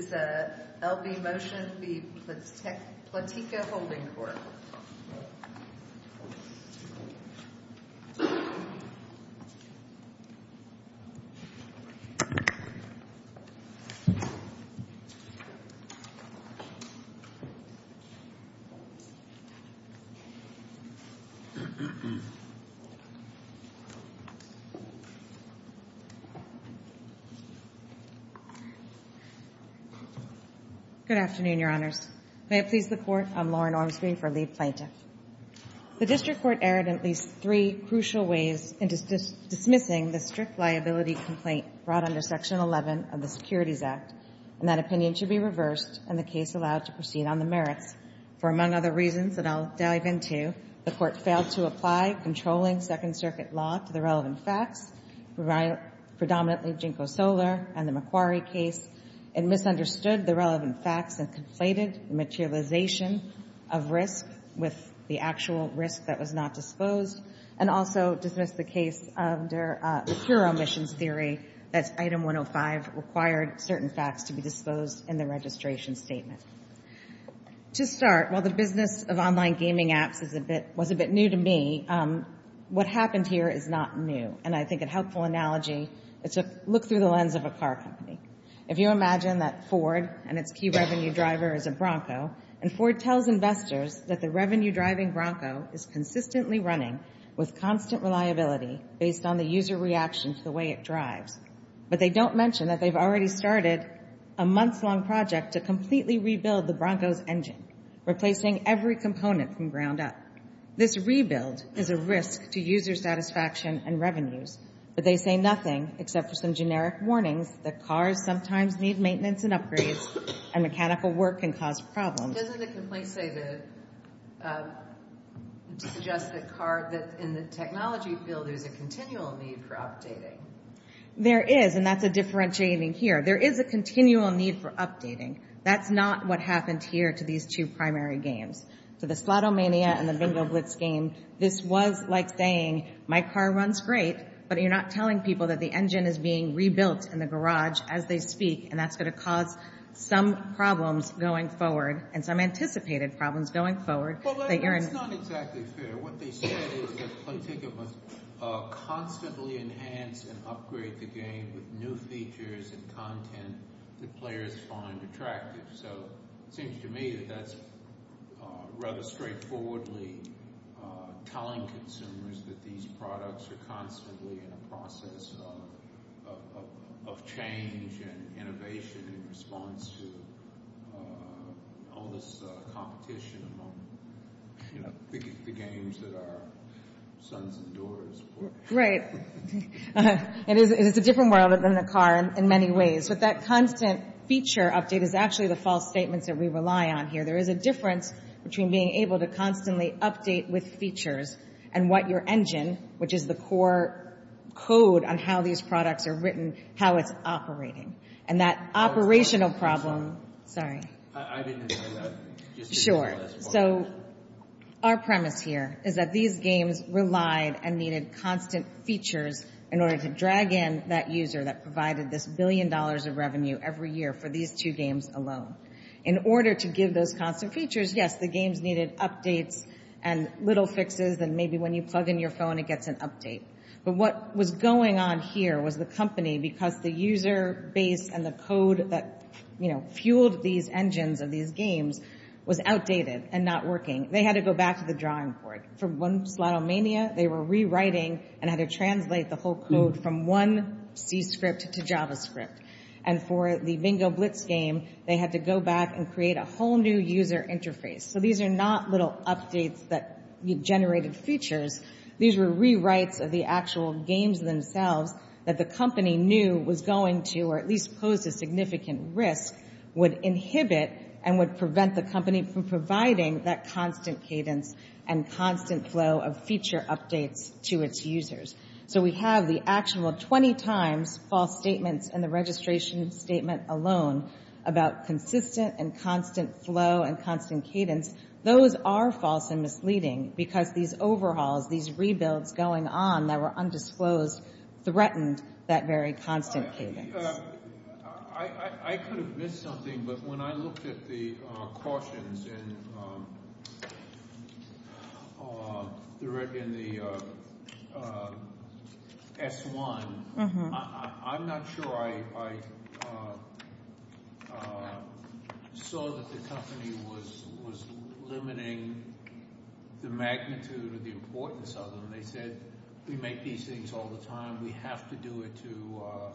This is the L.B. Motion v. Playtika Holding Corp. Good afternoon, Your Honors. May it please the Court, I'm Lauren Ormsby for Lee v. Playtika. The District Court erred in at least three crucial ways into dismissing the strict liability complaint brought under Section 11 of the Securities Act, and that opinion should be reversed and the case allowed to proceed on the merits. For among other reasons that I'll dive into, the Court failed to apply controlling Second Circuit law to the relevant facts, predominantly JNCO Solar and the Macquarie case, and misunderstood the relevant facts and conflated materialization of risk with the actual risk that was not disposed, and also dismissed the case under the pure omissions theory that Item 105 required certain facts to be disposed in the registration statement. To start, while the business of online gaming apps was a bit new to me, what happened here is not new, and I think a helpful analogy is to look through the lens of a car company. If you imagine that Ford and its key revenue driver is a Bronco, and Ford tells investors that the revenue-driving Bronco is consistently running with constant reliability based on the user reaction to the way it drives, but they don't mention that they've already started a months-long project to completely rebuild the Bronco's engine, replacing every component from ground up. This rebuild is a risk to user satisfaction and revenues, but they say nothing except for some generic warnings that cars sometimes need maintenance and upgrades, and mechanical work can cause problems. Doesn't the complaint suggest that in the technology field there's a continual need for updating? There is, and that's a differentiating here. There is a continual need for updating. That's not what happened here to these two primary games. To the Slotomania and the Bingo Blitz game, this was like saying, my car runs great, but you're not telling people that the engine is being rebuilt in the garage as they speak, and that's going to cause some problems going forward and some anticipated problems going forward. That's not exactly fair. What they said is that Playticket must constantly enhance and upgrade the game with new features and content that players find attractive. It seems to me that that's rather straightforwardly telling consumers that these products are constantly in a process of change and innovation in response to all this competition among the games that our sons and daughters play. It's a different world than the car in many ways, but that constant feature update is actually the false statements that we rely on here. There is a difference between being able to constantly update with features and what your engine, which is the core code on how these products are written, how it's operating. Our premise here is that these games relied and needed constant features in order to drag in that user that provided this billion dollars of revenue every year for these two games alone. In order to give those constant features, yes, the games needed updates and little fixes, and maybe when you plug in your phone, it gets an update. But what was going on here was the company, because the user base and the code that fueled these engines of these games was outdated and not working. They had to go back to the drawing board. For One Slalomania, they were rewriting and had to translate the whole code from one C script to JavaScript. And for the Bingo Blitz game, they had to go back and create a whole new user interface. So these are not little updates that generated features. These were rewrites of the actual games themselves that the company knew was going to, or at least posed a significant risk, would inhibit and would prevent the company from providing that constant cadence and constant flow of feature updates to its users. So we have the actual 20 times false statements in the registration statement alone about consistent and constant flow and constant cadence. Those are false and misleading because these overhauls, these rebuilds going on that were undisclosed threatened that very constant cadence. I could have missed something, but when I looked at the cautions in the S1, I'm not sure I saw that the company was limiting the magnitude or the importance of them. They said, we make these things all the time. We have to do it to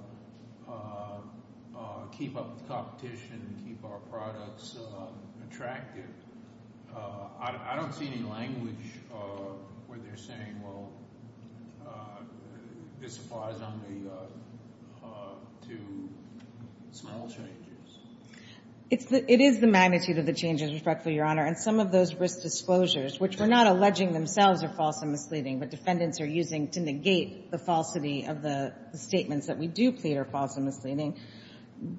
keep up with competition and keep our products attractive. I don't see any language where they're saying, well, this applies only to small changes. It is the magnitude of the changes, respectfully, Your Honor. And some of those risk disclosures, which we're not alleging themselves are false and misleading, but defendants are using to negate the falsity of the statements that we do plead are false and misleading,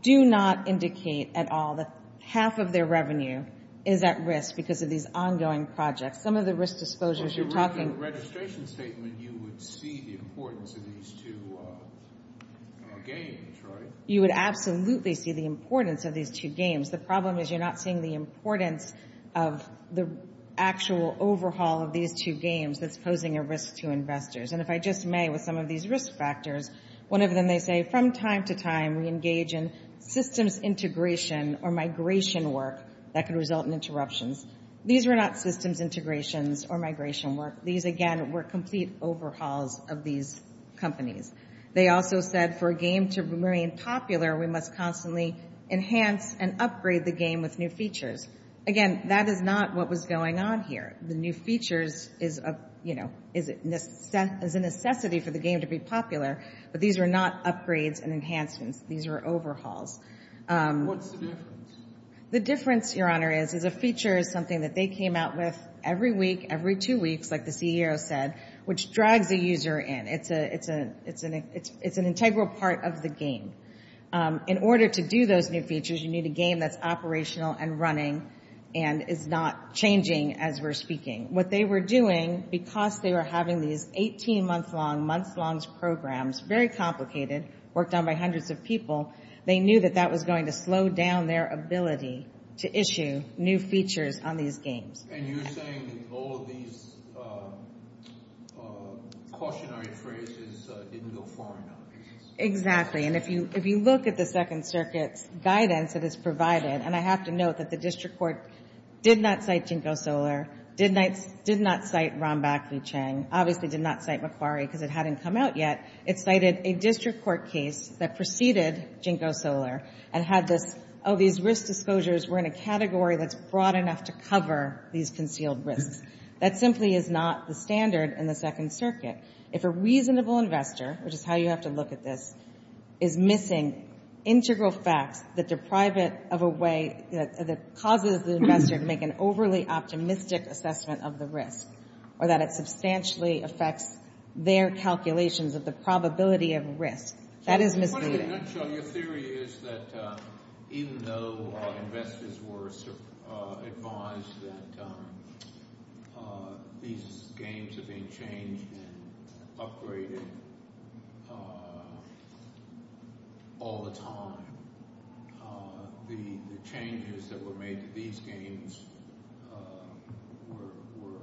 do not indicate at all that half of their revenue is at risk because of these ongoing projects. Some of the risk disclosures you're talking — Well, if you read the registration statement, you would see the importance of these two games, right? You would absolutely see the importance of these two games. The problem is you're not seeing the importance of the actual overhaul of these two games that's posing a risk to investors. And if I just may, with some of these risk factors, one of them, they say, from time to time, we engage in systems integration or migration work that can result in interruptions. These were not systems integrations or migration work. These, again, were complete overhauls of these companies. They also said for a game to remain popular, we must constantly enhance and upgrade the game with new features. Again, that is not what was going on here. The new features is a necessity for the game to be popular, but these were not upgrades and enhancements. These were overhauls. What's the difference? The difference, Your Honor, is a feature is something that they came out with every week, every two weeks, like the CEO said, which drags a user in. It's an integral part of the game. In order to do those new features, you need a game that's operational and running and is not changing as we're speaking. What they were doing, because they were having these 18-month-long, month-long programs, very complicated, worked on by hundreds of people, they knew that that was going to slow down their ability to issue new features on these games. And you're saying that all of these cautionary phrases didn't go far enough. Exactly. And if you look at the Second Circuit's guidance that is provided, and I have to note that the district court did not cite JNCO Solar, did not cite Ron Bakley Chang, obviously did not cite Macquarie because it hadn't come out yet. It cited a district court case that preceded JNCO Solar and had this, we're in a category that's broad enough to cover these concealed risks. That simply is not the standard in the Second Circuit. If a reasonable investor, which is how you have to look at this, is missing integral facts that deprive it of a way that causes the investor to make an overly optimistic assessment of the risk or that it substantially affects their calculations of the probability of risk, that is misleading. In a nutshell, your theory is that even though investors were advised that these games are being changed and upgraded all the time, the changes that were made to these games were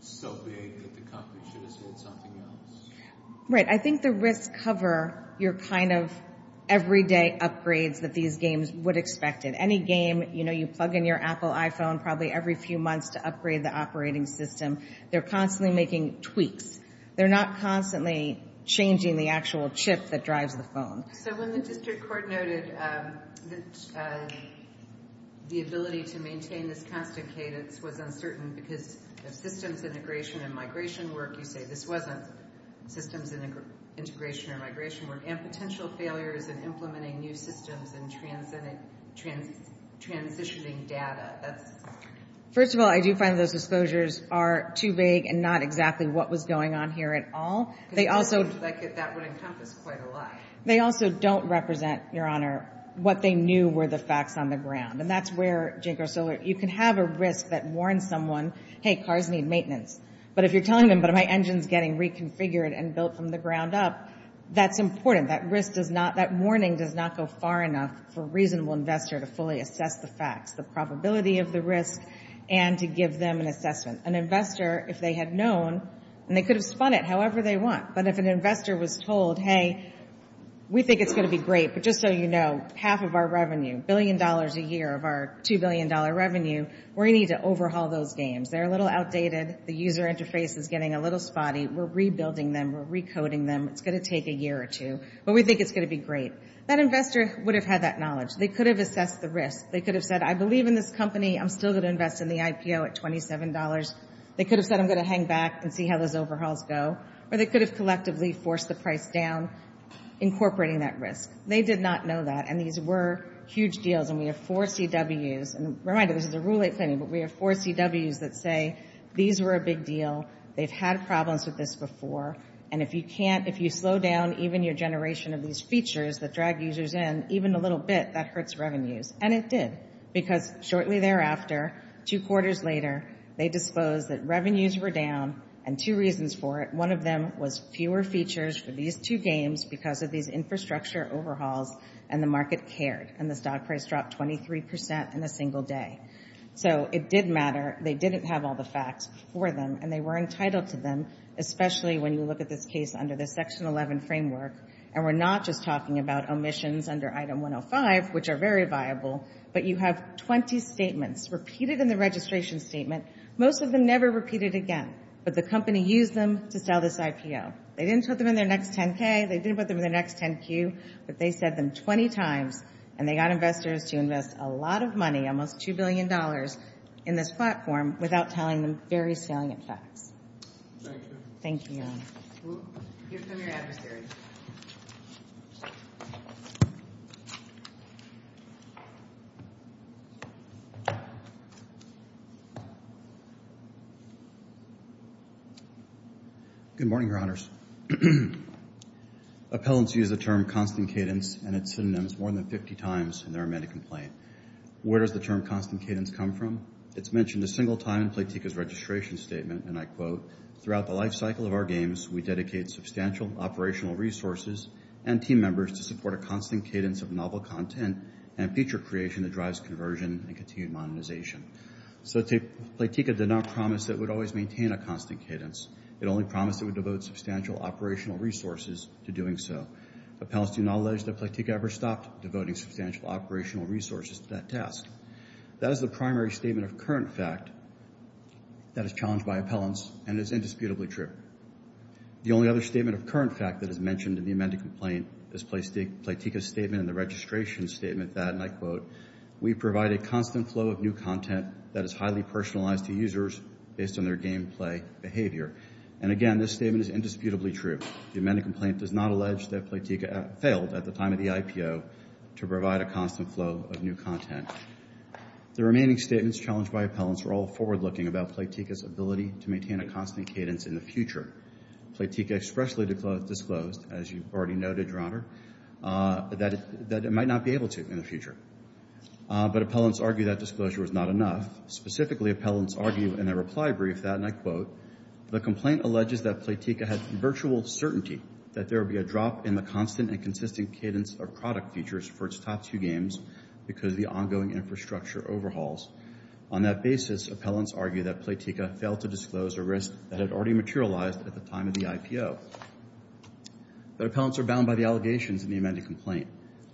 so big that the company should have sold something else. Right. I think the risks cover your kind of everyday upgrades that these games would expect in any game. You know, you plug in your Apple iPhone probably every few months to upgrade the operating system. They're constantly making tweaks. They're not constantly changing the actual chip that drives the phone. So when the district court noted that the ability to maintain this constant cadence was uncertain because of systems integration and migration work, you say this wasn't systems integration or migration work, and potential failures in implementing new systems and transitioning data. First of all, I do find those disclosures are too vague and not exactly what was going on here at all. That would encompass quite a lot. They also don't represent, Your Honor, what they knew were the facts on the ground. You can have a risk that warns someone, hey, cars need maintenance. But if you're telling them, but my engine's getting reconfigured and built from the ground up, that's important. That warning does not go far enough for a reasonable investor to fully assess the facts, the probability of the risk, and to give them an assessment. An investor, if they had known, and they could have spun it however they want, but if an investor was told, hey, we think it's going to be great, but just so you know, half of our revenue, $1 billion a year of our $2 billion revenue, we're going to need to overhaul those games. They're a little outdated. The user interface is getting a little spotty. We're rebuilding them. We're recoding them. It's going to take a year or two, but we think it's going to be great. That investor would have had that knowledge. They could have assessed the risk. They could have said, I believe in this company. I'm still going to invest in the IPO at $27. They could have said, I'm going to hang back and see how those overhauls go. Or they could have collectively forced the price down, incorporating that risk. They did not know that, and these were huge deals, and we have four CWs. And remind you, this is a Rule 8 planning, but we have four CWs that say these were a big deal. They've had problems with this before, and if you slow down even your generation of these features that drag users in, even a little bit, that hurts revenues. And it did, because shortly thereafter, two quarters later, they disposed that revenues were down, and two reasons for it. One of them was fewer features for these two games because of these infrastructure overhauls, and the market cared, and the stock price dropped 23% in a single day. So it did matter. They didn't have all the facts for them, and they were entitled to them, especially when you look at this case under the Section 11 framework. And we're not just talking about omissions under Item 105, which are very viable, but you have 20 statements repeated in the registration statement, most of them never repeated again. But the company used them to sell this IPO. They didn't put them in their next 10-K. They didn't put them in their next 10-Q. But they said them 20 times, and they got investors to invest a lot of money, almost $2 billion, in this platform without telling them very salient facts. Thank you. Thank you. Your premier adversary. Good morning, Your Honors. Appellants use the term constant cadence and its synonyms more than 50 times in their amended complaint. Where does the term constant cadence come from? It's mentioned a single time in Platika's registration statement, and I quote, Throughout the life cycle of our games, we dedicate substantial operational resources and team members to support a constant cadence of novel content and feature creation that drives conversion and continued modernization. So Platika did not promise it would always maintain a constant cadence. It only promised it would devote substantial operational resources to doing so. Appellants do not allege that Platika ever stopped devoting substantial operational resources to that task. That is the primary statement of current fact that is challenged by appellants and is indisputably true. The only other statement of current fact that is mentioned in the amended complaint is Platika's statement in the registration statement that, and I quote, We provide a constant flow of new content that is highly personalized to users based on their gameplay behavior. And again, this statement is indisputably true. The amended complaint does not allege that Platika failed at the time of the IPO to provide a constant flow of new content. The remaining statements challenged by appellants were all forward-looking about Platika's ability to maintain a constant cadence in the future. Platika expressly disclosed, as you already noted, Your Honor, that it might not be able to in the future. But appellants argue that disclosure was not enough. Specifically, appellants argue in their reply brief that, and I quote, The complaint alleges that Platika had virtual certainty that there would be a drop in the constant and consistent cadence of product features for its top two games because of the ongoing infrastructure overhauls. On that basis, appellants argue that Platika failed to disclose a risk that had already materialized at the time of the IPO. But appellants are bound by the allegations in the amended complaint.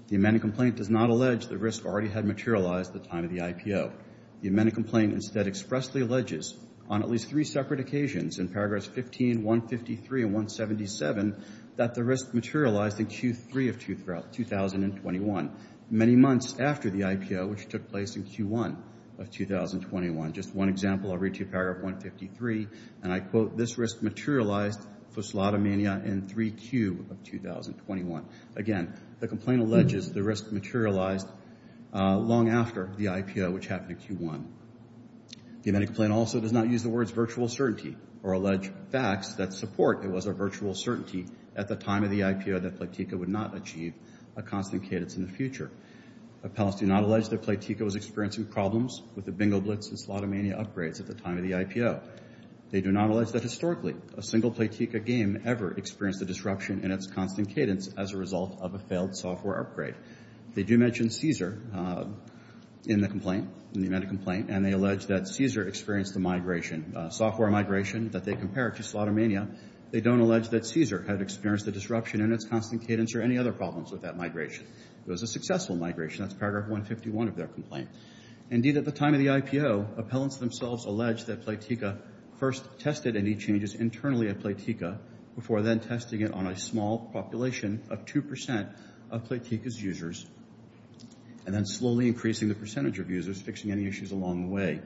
The amended complaint does not allege the risk already had materialized at the time of the IPO. The amended complaint instead expressly alleges, on at least three separate occasions in paragraphs 15, 153, and 177, that the risk materialized in Q3 of 2021, many months after the IPO, which took place in Q1 of 2021. Just one example, I'll read to you paragraph 153, and I quote, This risk materialized for Slotomania in 3Q of 2021. Again, the complaint alleges the risk materialized long after the IPO, which happened in Q1. The amended complaint also does not use the words virtual certainty or allege facts that support it was a virtual certainty at the time of the IPO that Platika would not achieve a constant cadence in the future. Appellants do not allege that Platika was experiencing problems with the Bingo Blitz and Slotomania upgrades at the time of the IPO. They do not allege that historically a single Platika game ever experienced a disruption in its constant cadence as a result of a failed software upgrade. They do mention Caesar in the complaint, in the amended complaint, and they allege that Caesar experienced a migration, a software migration that they compared to Slotomania. They don't allege that Caesar had experienced a disruption in its constant cadence or any other problems with that migration. It was a successful migration. That's paragraph 151 of their complaint. Indeed, at the time of the IPO, appellants themselves allege that Platika first tested any changes internally at Platika before then testing it on a small population of 2% of Platika's users and then slowly increasing the percentage of users, fixing any issues along the way.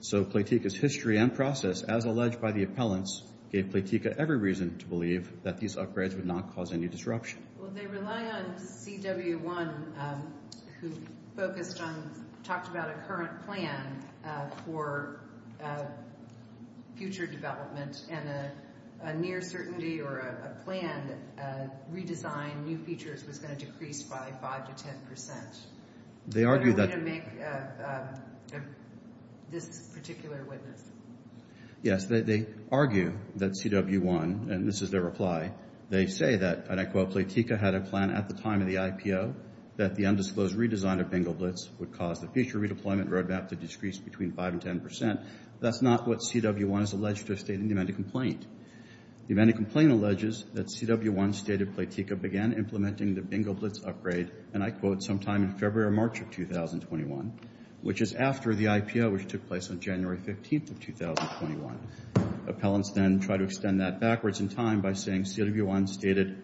So Platika's history and process, as alleged by the appellants, gave Platika every reason to believe that these upgrades would not cause any disruption. Well, they rely on CW1, who talked about a current plan for future development and a near certainty or a planned redesign, new features, was going to decrease by 5% to 10%. Are you going to make this particular witness? Yes, they argue that CW1, and this is their reply, they say that, and I quote, Platika had a plan at the time of the IPO that the undisclosed redesign of Bingle Blitz would cause the future redeployment roadmap to decrease between 5% and 10%. That's not what CW1 has alleged to have stated in the amended complaint. The amended complaint alleges that CW1 stated Platika began implementing the Bingle Blitz upgrade, and I quote, sometime in February or March of 2021, which is after the IPO, which took place on January 15th of 2021. Appellants then try to extend that backwards in time by saying CW1 stated,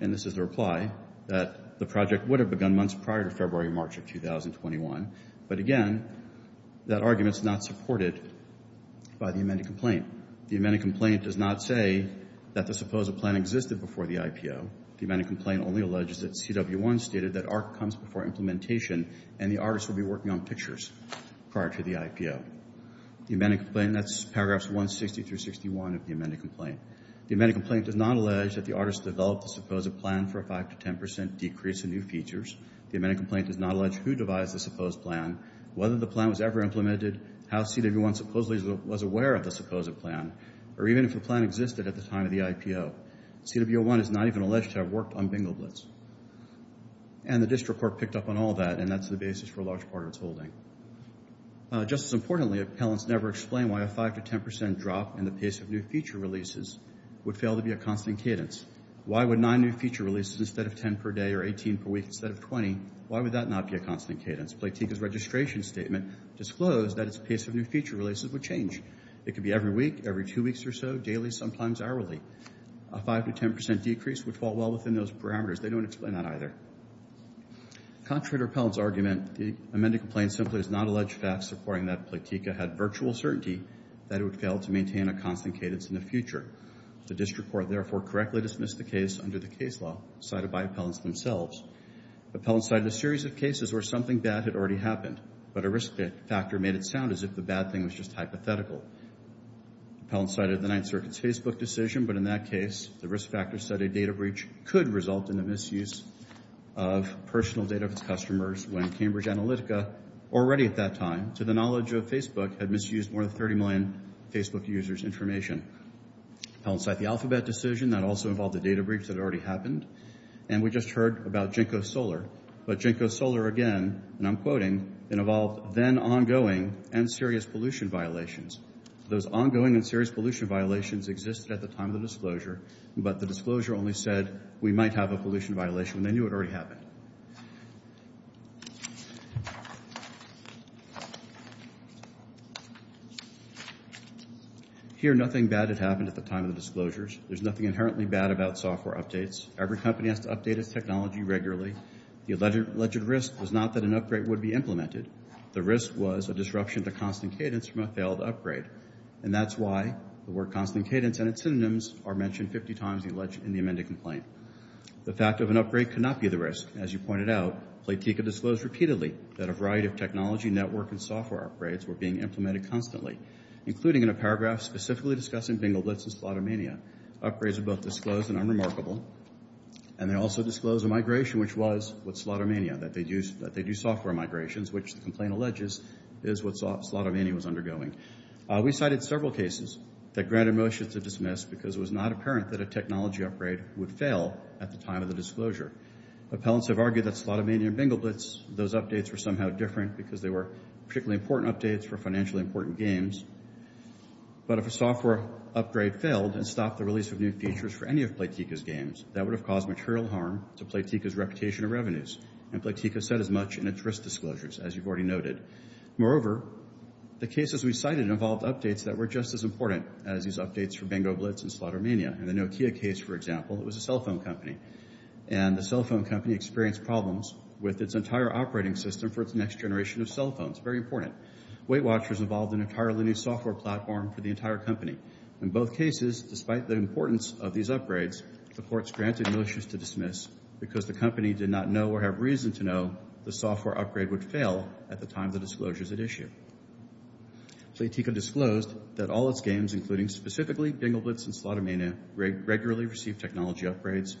and this is their reply, that the project would have begun months prior to February or March of 2021. But again, that argument is not supported by the amended complaint. The amended complaint does not say that the supposed plan existed before the IPO. The amended complaint only alleges that CW1 stated that ARC comes before implementation and the artists will be working on pictures prior to the IPO. The amended complaint, that's paragraphs 160 through 61 of the amended complaint. The amended complaint does not allege that the artists developed the supposed plan for a 5% to 10% decrease in new features. The amended complaint does not allege who devised the supposed plan, whether the plan was ever implemented, how CW1 supposedly was aware of the supposed plan, or even if the plan existed at the time of the IPO. CW1 is not even alleged to have worked on Bingle Blitz. And the district court picked up on all that, and that's the basis for a large part of its holding. Just as importantly, appellants never explain why a 5% to 10% drop in the pace of new feature releases would fail to be a constant cadence. Why would nine new feature releases instead of 10 per day or 18 per week instead of 20, why would that not be a constant cadence? Platika's registration statement disclosed that its pace of new feature releases would change. It could be every week, every two weeks or so, daily, sometimes hourly. A 5% to 10% decrease would fall well within those parameters. They don't explain that either. Contrary to appellants' argument, the amended complaint simply does not allege facts supporting that Platika had virtual certainty that it would fail to maintain a constant cadence in the future. The district court, therefore, correctly dismissed the case under the case law cited by appellants themselves. Appellants cited a series of cases where something bad had already happened, but a risk factor made it sound as if the bad thing was just hypothetical. Appellants cited the Ninth Circuit's Facebook decision, but in that case, the risk factor said a data breach could result in the misuse of personal data of customers when Cambridge Analytica, already at that time, to the knowledge of Facebook, had misused more than 30 million Facebook users' information. Appellants cite the Alphabet decision. That also involved a data breach that had already happened. And we just heard about Jenko Solar. But Jenko Solar, again, and I'm quoting, it involved then ongoing and serious pollution violations. Those ongoing and serious pollution violations existed at the time of the disclosure, but the disclosure only said we might have a pollution violation when they knew it already happened. Here, nothing bad had happened at the time of the disclosures. There's nothing inherently bad about software updates. Every company has to update its technology regularly. The alleged risk was not that an upgrade would be implemented. The risk was a disruption to constant cadence from a failed upgrade. And that's why the word constant cadence and its synonyms are mentioned 50 times in the amended complaint. The fact of an upgrade could not be the risk. As you pointed out, Platika disclosed repeatedly that a variety of technology, network, and software upgrades were being implemented constantly, including in a paragraph specifically discussing Bingel Blitz and Slotomania. Upgrades were both disclosed and unremarkable. And they also disclosed a migration, which was with Slotomania, that they do software migrations, which the complaint alleges is what Slotomania was undergoing. We cited several cases that granted motion to dismiss because it was not apparent that a technology upgrade would fail at the time of the disclosure. Appellants have argued that Slotomania and Bingel Blitz, those updates were somehow different because they were particularly important updates for financially important games. But if a software upgrade failed and stopped the release of new features for any of Platika's games, that would have caused material harm to Platika's reputation and revenues. And Platika said as much in its risk disclosures, as you've already noted. Moreover, the cases we cited involved updates that were just as important as these updates for Bingel Blitz and Slotomania. In the Nokia case, for example, it was a cell phone company. And the cell phone company experienced problems with its entire operating system for its next generation of cell phones. Very important. Weight Watchers involved an entirely new software platform for the entire company. In both cases, despite the importance of these upgrades, the courts granted motions to dismiss because the company did not know or have reason to know the software upgrade would fail at the time of the disclosures at issue. Platika disclosed that all its games, including specifically Bingel Blitz and Slotomania, regularly received technology upgrades.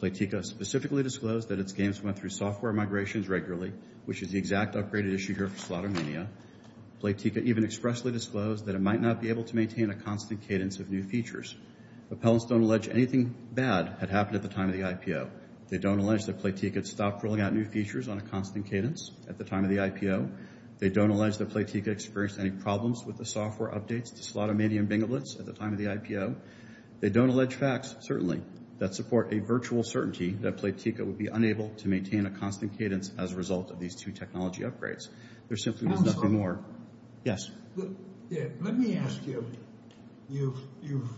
Platika specifically disclosed that its games went through software migrations regularly, which is the exact upgraded issue here for Slotomania. Platika even expressly disclosed that it might not be able to maintain a constant cadence of new features. Appellants don't allege anything bad had happened at the time of the IPO. They don't allege that Platika had stopped rolling out new features on a constant cadence at the time of the IPO. They don't allege that Platika experienced any problems with the software updates to Slotomania and Bingel Blitz at the time of the IPO. They don't allege facts, certainly, that support a virtual certainty that Platika would be unable to maintain a constant cadence as a result of these two technology upgrades. There simply was nothing more. Let me ask you. You've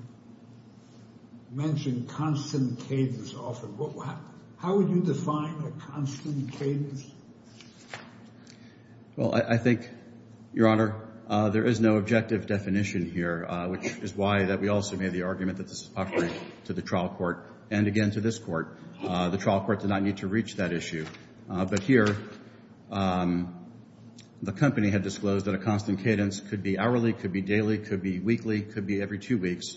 mentioned constant cadence often. How would you define a constant cadence? Well, I think, Your Honor, there is no objective definition here, which is why we also made the argument that this is appropriate to the trial court and, again, to this court. The trial court did not need to reach that issue. But here, the company had disclosed that a constant cadence could be hourly, could be daily, could be weekly, could be every two weeks.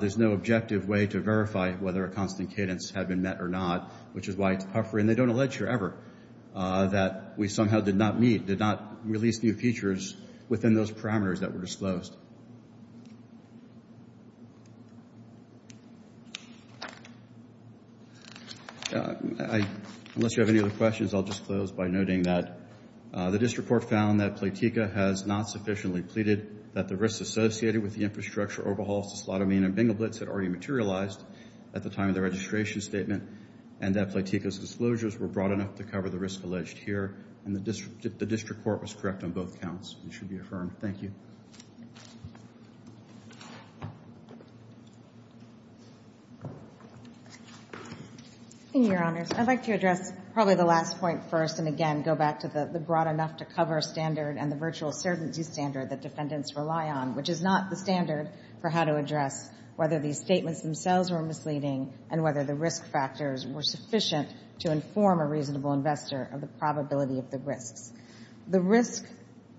There's no objective way to verify whether a constant cadence had been met or not, which is why it's puffery, and they don't allege here ever that we somehow did not meet, did not release new features within those parameters that were disclosed. Unless you have any other questions, I'll just close by noting that the district court found that Platika has not sufficiently pleaded that the risks associated with the infrastructure overhauls to Slotamine and Bingle Blitz had already materialized at the time of the registration statement and that Platika's disclosures were broad enough to cover the risk alleged here, and the district court was correct on both counts. It should be affirmed. Thank you. In your honors, I'd like to address probably the last point first and again go back to the broad enough to cover standard and the virtual certainty standard that defendants rely on, which is not the standard for how to address whether these statements themselves were misleading and whether the risk factors were sufficient to inform a reasonable investor of the probability of the risks. The risk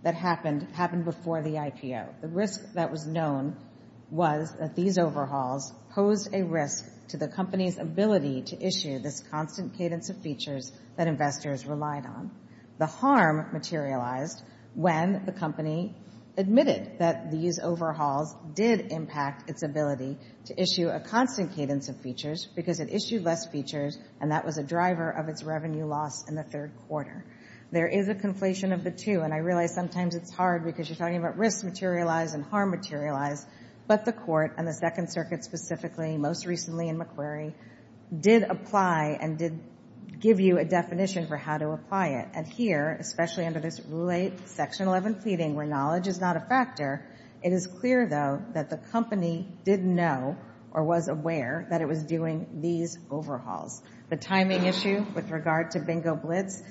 that happened happened before the IPO. The risk that was known was that these overhauls posed a risk to the company's ability to issue this constant cadence of features that investors relied on. The harm materialized when the company admitted that these overhauls did impact its ability to issue a constant cadence of features because it issued less features, and that was a driver of its revenue loss in the third quarter. There is a conflation of the two, and I realize sometimes it's hard because you're talking about risk materialize and harm materialize, but the Court and the Second Circuit specifically, most recently in McQuarrie, did apply and did give you a definition for how to apply it. And here, especially under this late Section 11 pleading where knowledge is not a factor, it is clear, though, that the company didn't know or was aware that it was doing these overhauls. The timing issue with regard to Bingo Blitz,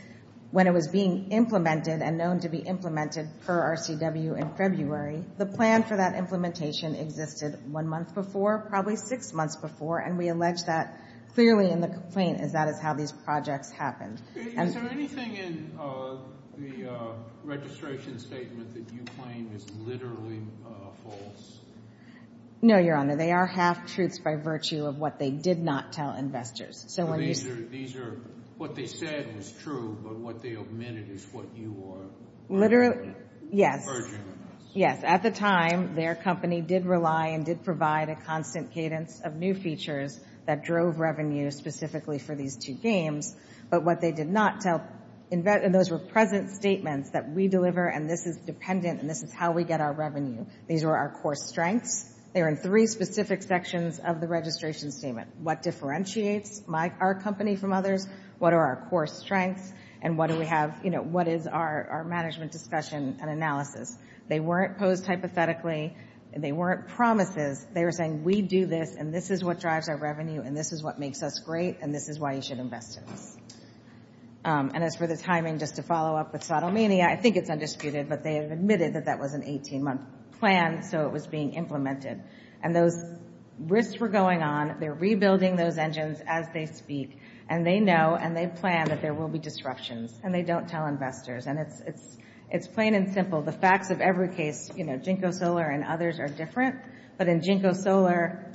when it was being implemented and known to be implemented per RCW in February, the plan for that implementation existed one month before, probably six months before, and we allege that clearly in the complaint is that is how these projects happened. Is there anything in the registration statement that you claim is literally false? No, Your Honor. They are half-truths by virtue of what they did not tell investors. These are what they said is true, but what they omitted is what you are urging. Yes. At the time, their company did rely and did provide a constant cadence of new features that drove revenue specifically for these two games, but what they did not tell investors, and those were present statements that we deliver, and this is dependent, and this is how we get our revenue. These were our core strengths. They were in three specific sections of the registration statement. What differentiates our company from others? What are our core strengths? And what is our management discussion and analysis? They weren't posed hypothetically. They weren't promises. They were saying we do this, and this is what drives our revenue, and this is what makes us great, and this is why you should invest in us. And as for the timing, just to follow up with subtle meaning, I think it's undisputed, but they have admitted that that was an 18-month plan, so it was being implemented. And those risks were going on. They're rebuilding those engines as they speak, and they know and they plan that there will be disruptions, and they don't tell investors, and it's plain and simple. The facts of every case, you know, JNCO Solar and others are different, but in JNCO Solar,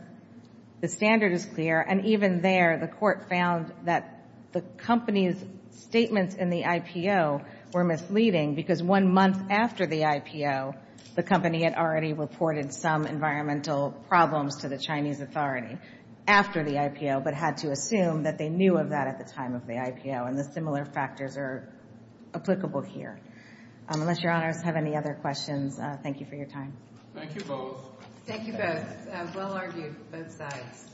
the standard is clear, and even there, the court found that the company's statements in the IPO were misleading because one month after the IPO, the company had already reported some environmental problems to the Chinese authority after the IPO, but had to assume that they knew of that at the time of the IPO, and the similar factors are applicable here. Unless your honors have any other questions, thank you for your time. Thank you both. Thank you both. Well argued, both sides.